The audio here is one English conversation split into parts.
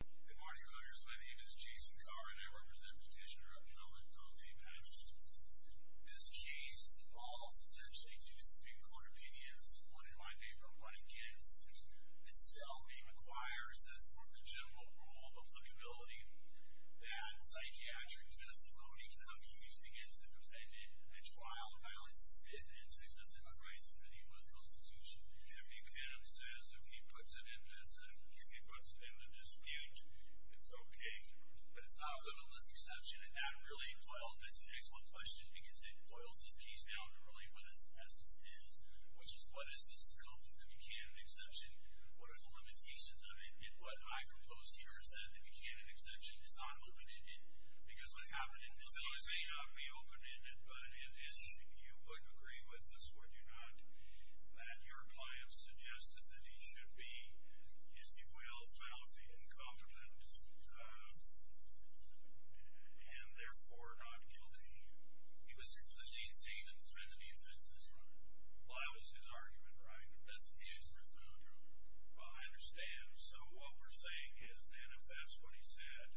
Good morning, voters. My name is Jason Carr and I represent petitioner Helmut Dante Pattison. This case involves essentially two Supreme Court opinions. One in my favor, one against. Itself, it requires that from the general rule of applicability that psychiatric testimony can be used against the defendant and trial violates its fifth and sixth amendment rights in the U.S. Constitution. If the defendant says, if he puts it in this, if he puts it in this page, it's okay. But it's not good on this exception. And that really, well, that's an excellent question because it boils this case down to really what its essence is, which is what is the scope of the Buchanan exception? What are the limitations of it? And what I propose here is that the Buchanan exception is not open-ended because what happened in this case... Well, it may not be open-ended, but if you would agree with us, would you not, that your client suggested that he should be, if you will, faulty, incompetent, and therefore not guilty? He was completely insane at the time that the incident took place. Well, that was his argument, right? That's his argument. Well, I understand. So what we're saying is then if that's what he said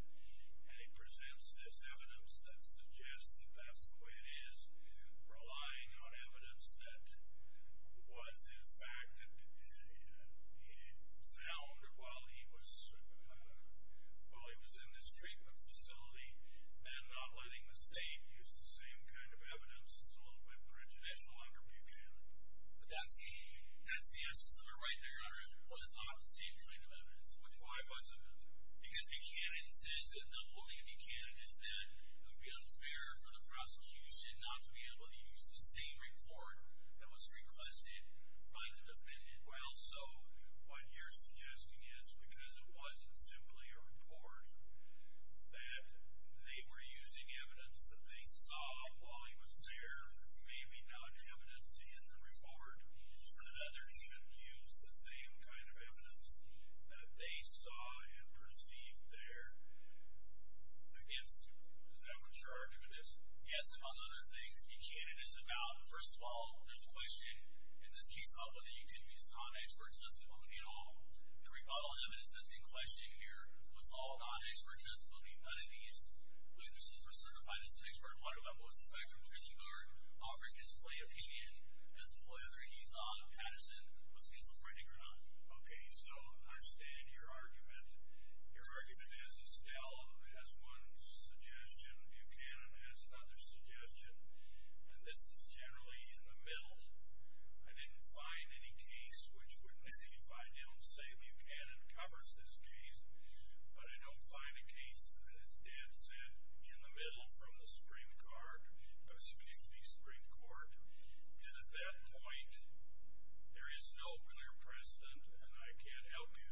and he presents this evidence that suggests that that's the way it is, relying on evidence that was, in fact, found while he was in this treatment facility and not letting the state use the same kind of evidence is a little bit prejudicial under Buchanan. But that's the essence of it right there, Your Honor. It was not the same kind of evidence. Which why wasn't it? Because Buchanan says that the holding of Buchanan is that it would be unfair for the prosecution not to be able to use the same report that was requested by the defendant. Well, so what you're suggesting is because it wasn't simply a report that they were using evidence that they saw while he was there, maybe not evidence in the report, that others should use the same kind of evidence that they saw and perceived there against him. Yes, among other things, Buchanan is about, first of all, there's a question, and this kicks off with it, you can't use non-experts. Does that bode at all? The rebuttal evidence that's in question here was all non-expert testimony. None of these witnesses were certified as an expert. One of them was, in fact, from Trisicard, offering his plain opinion as to whether he thought Patterson was schizophrenic or not. Okay, so I understand your argument. Your argument is Estelle has one suggestion, Buchanan has another suggestion, and this is generally in the middle. I didn't find any case which would negate it. I don't say Buchanan covers this case, but I don't find a case that is dead set in the middle from the Supreme Court. And at that point, there is no clear precedent, and I can't help you.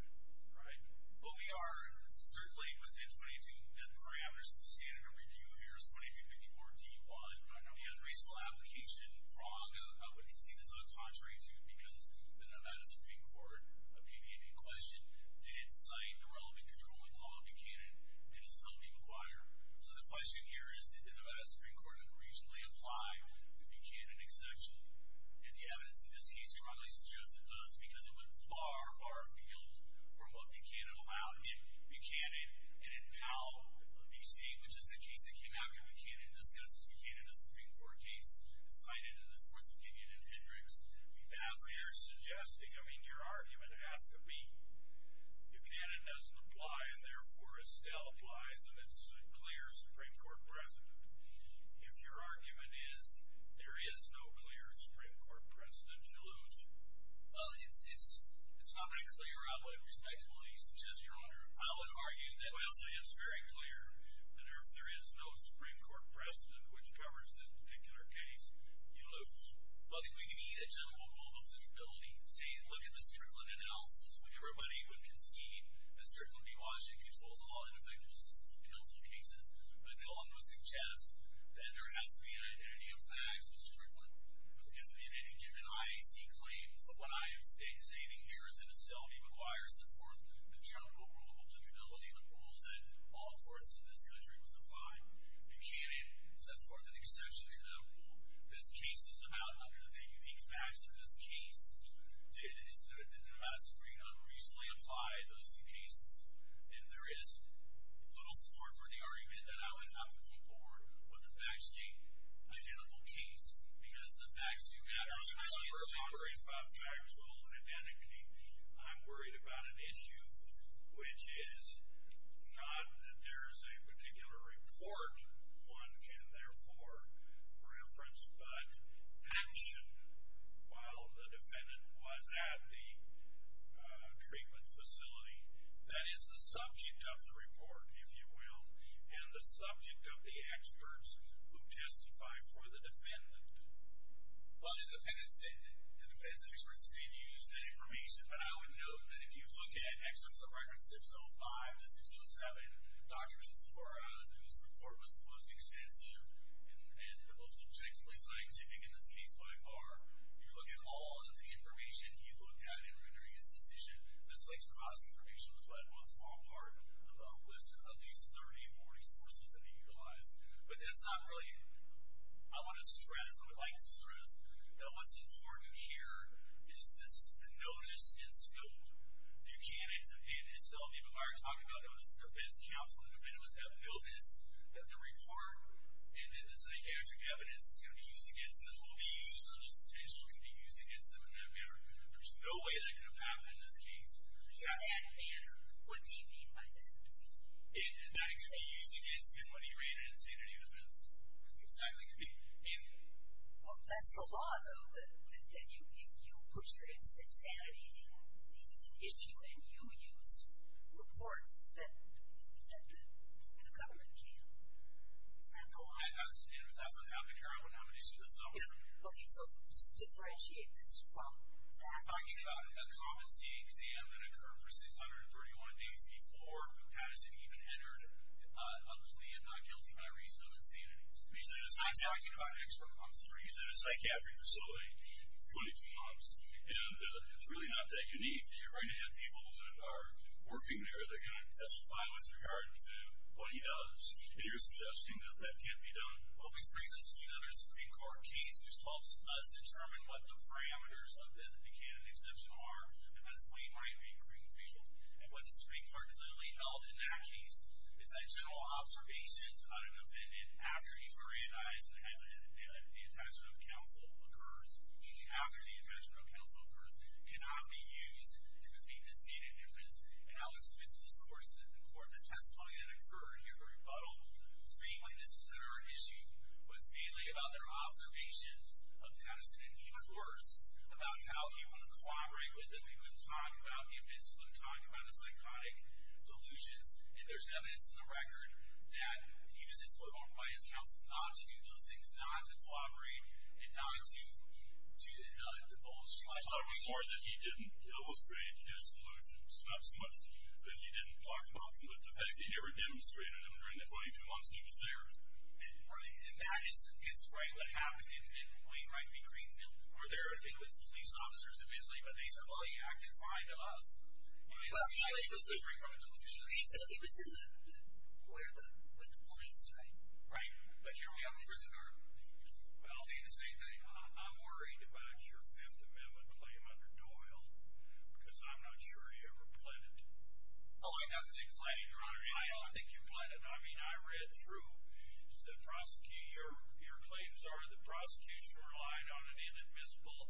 Right? Well, we are certainly within 22 parameters. The standard of review here is 2254-D1. I know. The unraceful application, wrong. I would concede it's not contrary to it because the Nevada Supreme Court, opinion in question, did cite the relevant controlling law of Buchanan, and it's still to be inquired. So the question here is, did the Nevada Supreme Court reasonably apply the Buchanan exception? And the evidence in this case strongly suggests it does because it went far, far afield from what Buchanan allowed in Buchanan and in Powell v. State, which is a case that came after Buchanan and discussed Buchanan in a Supreme Court case and cited in this Court's opinion in Hendricks. But as they are suggesting, I mean, your argument has to be Buchanan doesn't apply, and therefore Estelle applies, and it's a clear Supreme Court precedent. If your argument is there is no clear Supreme Court precedent, you lose. It's not that Estelle, you're outweighed. Respectfully, you suggest you're outweighed. I would argue that Estelle is very clear that if there is no Supreme Court precedent, which covers this particular case, you lose. But we need a general rule of observability. See, look at the Strickland analysis. Everybody would concede that Strickland v. Washington controls a lot of the effective assistance of counsel cases, but no one would suggest that there has to be an identity of facts with Strickland. In any given IAC claim, someone I am stating here is in Estelle v. McGuire, sets forth the general rule of observability, the rules that all courts in this country must abide. Buchanan sets forth an exception to that rule. This case is about, under the unique facts of this case, is that the Supreme Court unreasonably applied those two cases. And there is little support for the argument that I would advocate for when the facts state identical case, because the facts do matter. I'm not worried about the actual identity. I'm worried about an issue which is not that there is a particular report one can therefore reference, but action while the defendant was at the treatment facility. That is the subject of the report, if you will, and the subject of the experts who testify for the defendant. Well, the defendant's experts did use that information, but I would note that if you look at Excerpts of Argument 605 to 607, Dr. Vincent Sporra, whose report was the most extensive and the most objectively scientific in this case by far, if you look at all of the information he looked at in rendering his decision, this extravagant information was what I'd want to fall apart with at least 30 or more resources that he utilized. But that's not really, I want to stress, I would like to stress, that what's important here is this notice instilled. Buchanan and Estelle, people have already talked about it, it was the defense counsel and the defendant was to have noticed that the report and the psychiatric evidence that's going to be used against them will be used, or just potentially will be used against them, and there's no way that could have happened in this case. In that manner, what do you mean by that? That it should be used against him when he ran an insanity defense. Exactly. Well, that's the law, though, that if you put your insanity in an issue and you use reports that the government can't. I understand, but that's what happened here. I wouldn't have an issue with that. Okay, so differentiate this from that. We're talking about a competency exam that occurred for 631 days before Patterson even entered, obviously not guilty by reason of insanity. We're not talking about expert commentary. He's in a psychiatric facility, 22 months, and it's really not that unique. You're going to have people that are working there, they're going to testify with regard to what he does, and you're suggesting that that can't be done. Well, we experienced this in another Supreme Court case, which helps us determine what the parameters of the candidate exception are, as we might in Greenfield. And what the Supreme Court clearly held in that case is that general observations on an offendant after he's been reanalyzed and the attachment of counsel occurs, after the attachment of counsel occurs, cannot be used to defeat an insanity defense. And Alex Smith, of course, in court, the testimony that occurred here, the rebuttal, three witnesses that are at issue, was mainly about their observations of Patterson, and even worse, about how he wouldn't cooperate with him. He couldn't talk about the events. He couldn't talk about the psychotic delusions. And there's evidence in the record that he was influenced by his counsel not to do those things, not to cooperate, and not to bolster his life. Well, it was more that he didn't illustrate his delusions, not so much that he didn't talk about them, but that he never demonstrated them during the 22 months he was there. And that is right what happened in Wainwright v. Greenfield, where there was police officers admittedly, but they said, well, he acted fine to us. He was in the Supreme Court delusion. He was in the where the points are. Right. But here we have a prison guard. I'll say the same thing. I'm worried about your Fifth Amendment claim under Doyle because I'm not sure he ever pled it. Oh, I don't think you pled it, Your Honor. I don't think you pled it. I mean, I read through the prosecution. Your claims are that prosecution relied on an inadmissible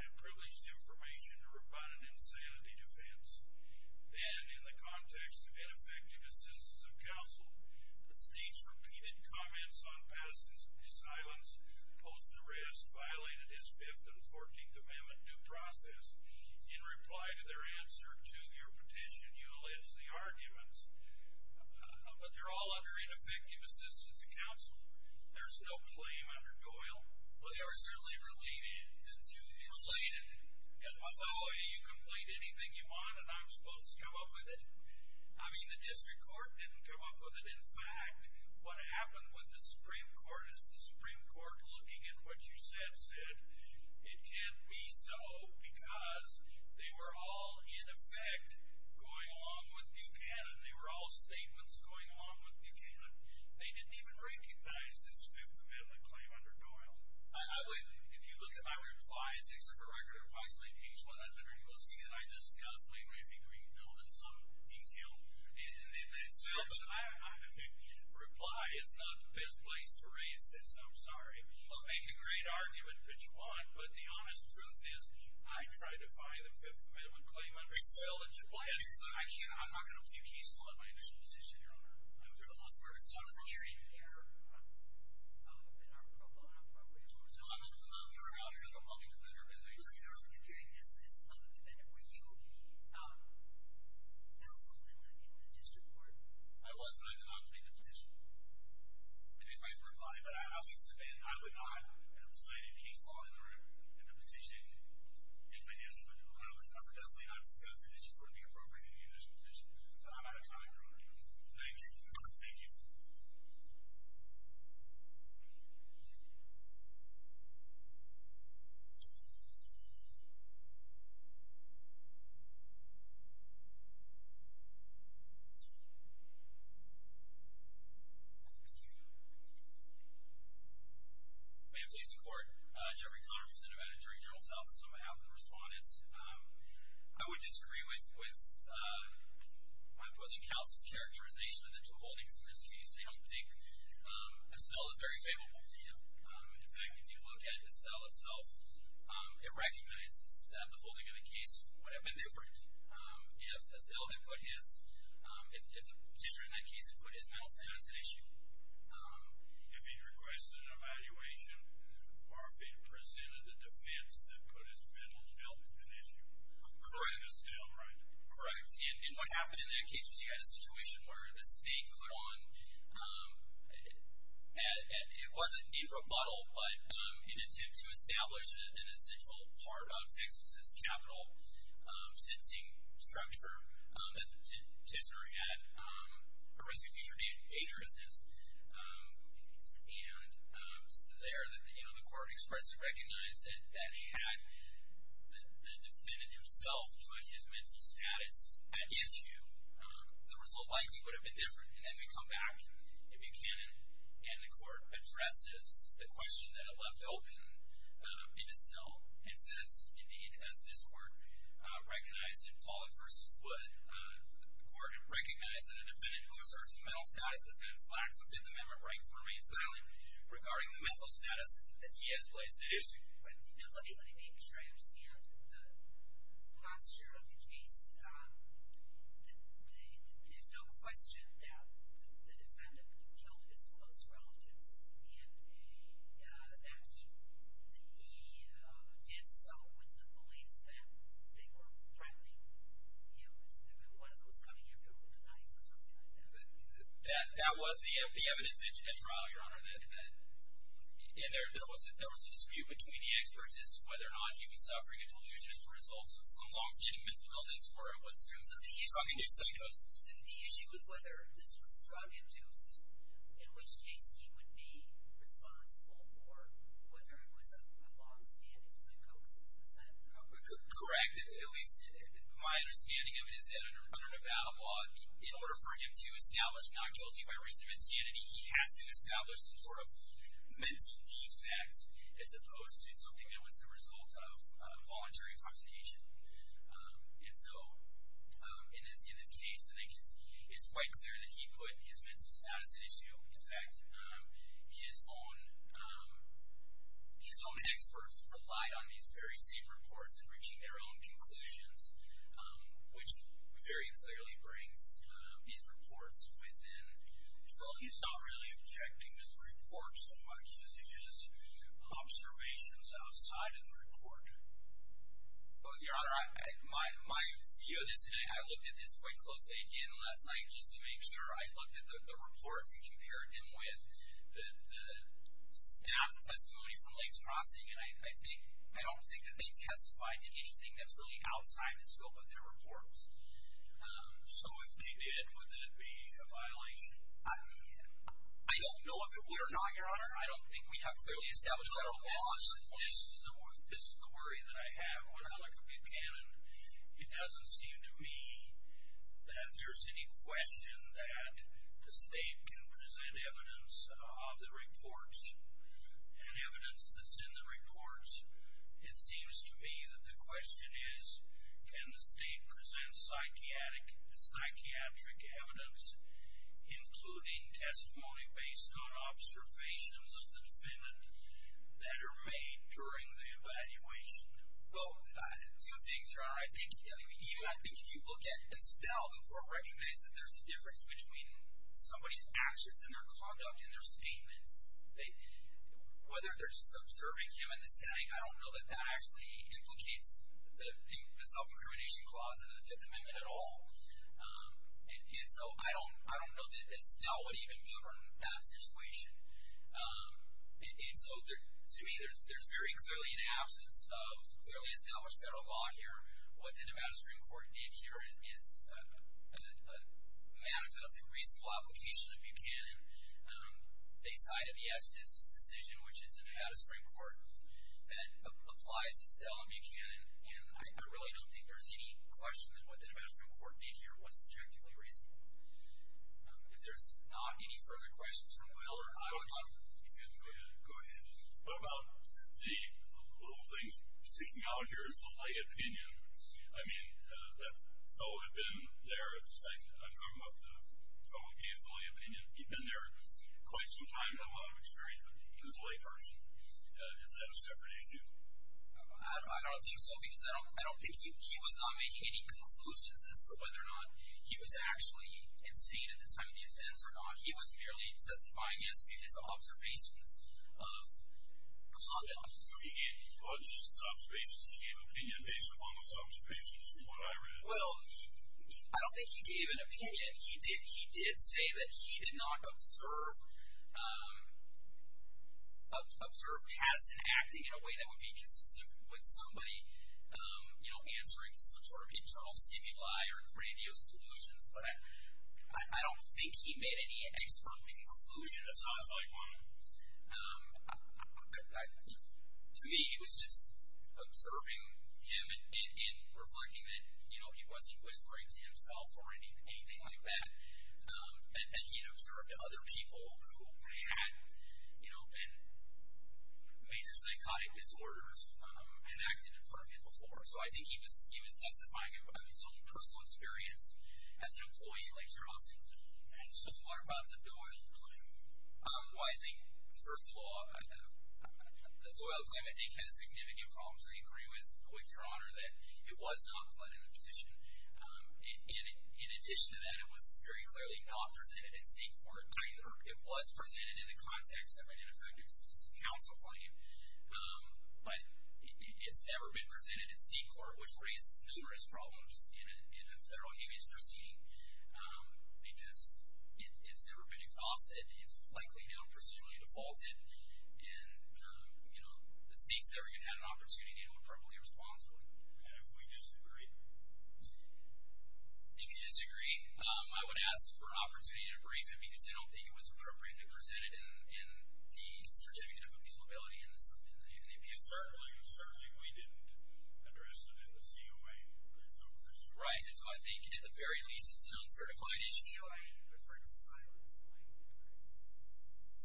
and privileged information to rebut an insanity defense. Then, in the context of ineffective assistance of counsel, the state's repeated comments on Pattinson's silence post-arrest violated his Fifth and Fourteenth Amendment due process. In reply to their answer to your petition, you allege the arguments, but they're all under ineffective assistance of counsel. There's no claim under Doyle. Well, they are certainly related. Related? That's the way you complete anything you want, and I'm supposed to come up with it. I mean, the district court didn't come up with it. In fact, what happened with the Supreme Court is the Supreme Court, looking at what you said, said, it can't be so because they were all, in effect, going along with Buchanan. They were all statements going along with Buchanan. They didn't even recognize this Fifth Amendment claim under Doyle. If you look at my replies, except for the record of approximately page one, I literally go see it, I discuss it, and maybe rebuild it in some detail in that sentence. No, but in reply, it's not the best place to raise this. I'm sorry. You can make a great argument that you want, but the honest truth is I tried to find the Fifth Amendment claim under Doyle. I'm not going to be peaceful in my initial decision here on that. I'm going to carry it here in our pro bono process. I'm going to move your rebuttal because I'm hoping to put it in your favor. So you're considering this unobtainable, you counseled in the district court. I was, and I did not make a petition. I didn't make the reply, but I would not complain if he saw it in the petition. I would definitely not discuss it. It's just going to be appropriate in the initial decision. I'm out of time, Your Honor. Thank you. Thank you. Ma'am, police and court. Jeffrey Connors from the Nevada Jury General's Office on behalf of the respondents. I would disagree with my opposing counsel's characterization of the two holdings in this case. I don't think Estelle is very favorable to him. In fact, if you look at Estelle itself, it recognizes that the holding of the case would have been different if Estelle had put his petitioner in that case and put his mental health as an issue. If he requested an evaluation, or if he presented a defense that put his mental health as an issue. Correct. For Estelle, right? Correct. And what happened in that case was you had a situation where the state put on, it wasn't a rebuttal, but an attempt to establish an essential part of Texas' capital sensing structure that the petitioner had a risk of future dangerousness. And it was there that the court expressed and recognized that had the defendant himself put his mental status at issue, the result likely would have been different. And then we come back to Buchanan, and the court addresses the question that it left open in Estelle and says, indeed, as this court recognized in Pollack v. Wood, the court recognized that a defendant who asserts a mental status defense lacks Fifth Amendment rights to remain silent regarding the mental status that he has placed at issue. Let me make sure I understand the posture of the case. There's no question that the defendant killed his close relatives. And that he did so with the belief that they were primarily, you know, one of those coming after him with a knife or something like that. That was the evidence at trial, Your Honor, and there was a dispute between the experts as to whether or not he was suffering a delusion as a result of some longstanding mental illness or it was coming as psychosis. And the issue was whether this was drug-induced, in which case he would be responsible for whether it was a longstanding psychosis. Is that correct? Correct. At least my understanding of it is that under Nevada law, in order for him to establish non-guilty by reason of insanity, he has to establish some sort of mental defect as opposed to something that was the result of voluntary intoxication. And so in this case, I think it's quite clear that he put his mental status at issue. In fact, his own experts relied on these very safe reports in reaching their own conclusions, which very clearly brings these reports within the world. He's not really objecting to the report so much as to his observations outside of the report. Your Honor, my view of this, and I looked at this quite closely again last night just to make sure I looked at the reports and compared them with the staff testimony from Lakes Crossing, and I don't think that they testified to anything that's really outside the scope of their reports. So if they did, would that be a violation? I don't know if it would or not, Your Honor. I don't think we have clearly established that at all. This is the worry that I have on a big canon. It doesn't seem to me that there's any question that the state can present evidence of the reports and evidence that's in the reports. It seems to me that the question is can the state present psychiatric evidence, including testimony based on observations of the defendant, that are made during the evaluation? Well, two things, Your Honor. I think even if you look at Estelle, the court recognizes that there's a difference between somebody's actions and their conduct and their statements. Whether they're serving him in the setting, I don't know that that actually implicates the self-incrimination clause in the Fifth Amendment at all. And so I don't know that Estelle would even govern that situation. And so to me, there's very clearly an absence of clearly established federal law here. What the Nevada Supreme Court did here is a manifesting reasonable application of Buchanan. They cited the Estes decision, which is in the Nevada Supreme Court, that applies Estelle and Buchanan. And I really don't think there's any question that what the Nevada Supreme Court did here was objectively reasonable. If there's not any further questions from Will or I would like to go ahead. Go ahead. What about the little thing sticking out here as the lay opinion? I mean, that fellow had been there. I'm talking about the fellow, he is the lay opinion. He'd been there quite some time, not a lot of experience, but he was a lay person. Is that a separate issue? I don't think so, because I don't think he was not making any conclusions as to whether or not he was actually insane at the time of the offense or not. He was merely testifying as to his observations of conduct. He wasn't just his observations. He gave an opinion based upon those observations from what I read. Well, I don't think he gave an opinion. He did say that he did not observe past acting in a way that would be consistent with somebody, you know, answering some sort of internal stimuli or grandiose delusions. But I don't think he made any expert conclusion as far as I'm concerned. To me, he was just observing him and reflecting that, you know, he wasn't whispering to himself or anything like that, and that he had observed other people who had, you know, been major psychotic disorders and acted in front of him before. So I think he was testifying about his own personal experience as an employee like Strauss. And so what about the Doyle claim? Well, I think, first of all, the Doyle claim, I think, had significant problems. I agree with your Honor that it was not plotted in the petition. And in addition to that, it was very clearly not presented in Singapore. It was presented in the context of an effective assistance council claim. But it's never been presented in Singapore, which raises numerous problems in a federal human rights proceeding because it's never been exhausted. It's likely now procedurally defaulted. And, you know, the state's never going to have an opportunity to do it properly and responsibly. And if we disagree? If you disagree, I would ask for an opportunity to debrief him because I don't think it was appropriately presented in the Certificate of Independence. Certainly, we didn't address it in the COA. Right. And so I think, at the very least, it's an uncertified issue. I referred to silence.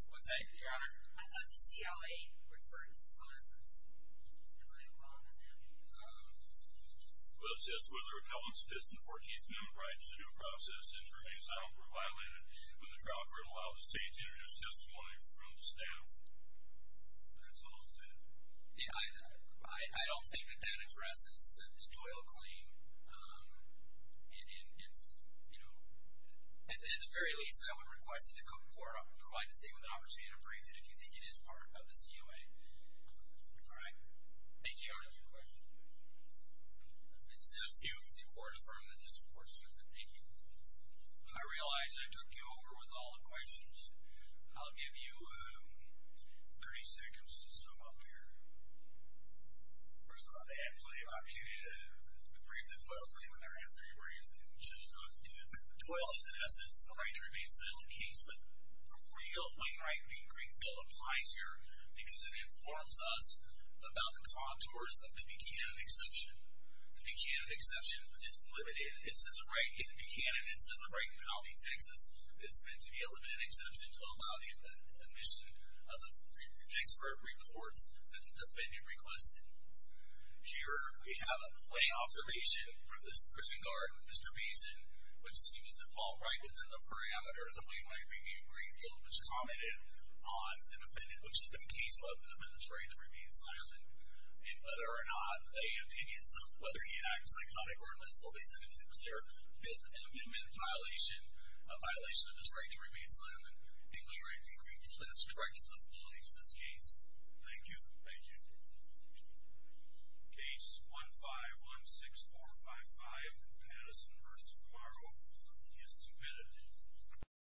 What's that, Your Honor? I thought the COA referred to silence. Am I wrong on that? Well, it says, was a repellent status in the 14th Amendment rights. The due process and termination of asylum were violated when the trial court allowed the state to introduce testimony from the staff. That's all I'm saying. Yeah, I don't think that that addresses the joy of a claim. And, you know, at the very least, I would request that the court provide the state with an opportunity to brief it if you think it is part of the COA. All right. Thank you, Your Honor, for your question. It's you, the court firm that just supports you. Thank you. I realize I took you over with all the questions. I'll give you 30 seconds to sum up here. First of all, I think I have plenty of opportunity to brief the Doyle claim when they're answering your questions. Doyle is, in essence, the right to remain silent case. But from where you go, Wayne Wright v. Greenfield applies here because it informs us about the contours of the Buchanan exception. The Buchanan exception is limited. In Buchanan, it says the right in Alfie, Texas. It's meant to be a limited exception to allow the admission of the expert reports that the defendant requested. Here we have a lay observation from the prison guard, Mr. Beeson, which seems to fall right within the parameters of Wayne Wright v. Greenfield, which commented on the defendant, which is in case of the defendant's right to remain silent. And whether or not a opinions of whether he acts psychotic or illicit is there a fifth amendment violation, a violation of his right to remain silent, and Wayne Wright v. Greenfield has direct responsibility for this case. Thank you. Thank you. Case 1516455, Patterson v. Margo, is submitted.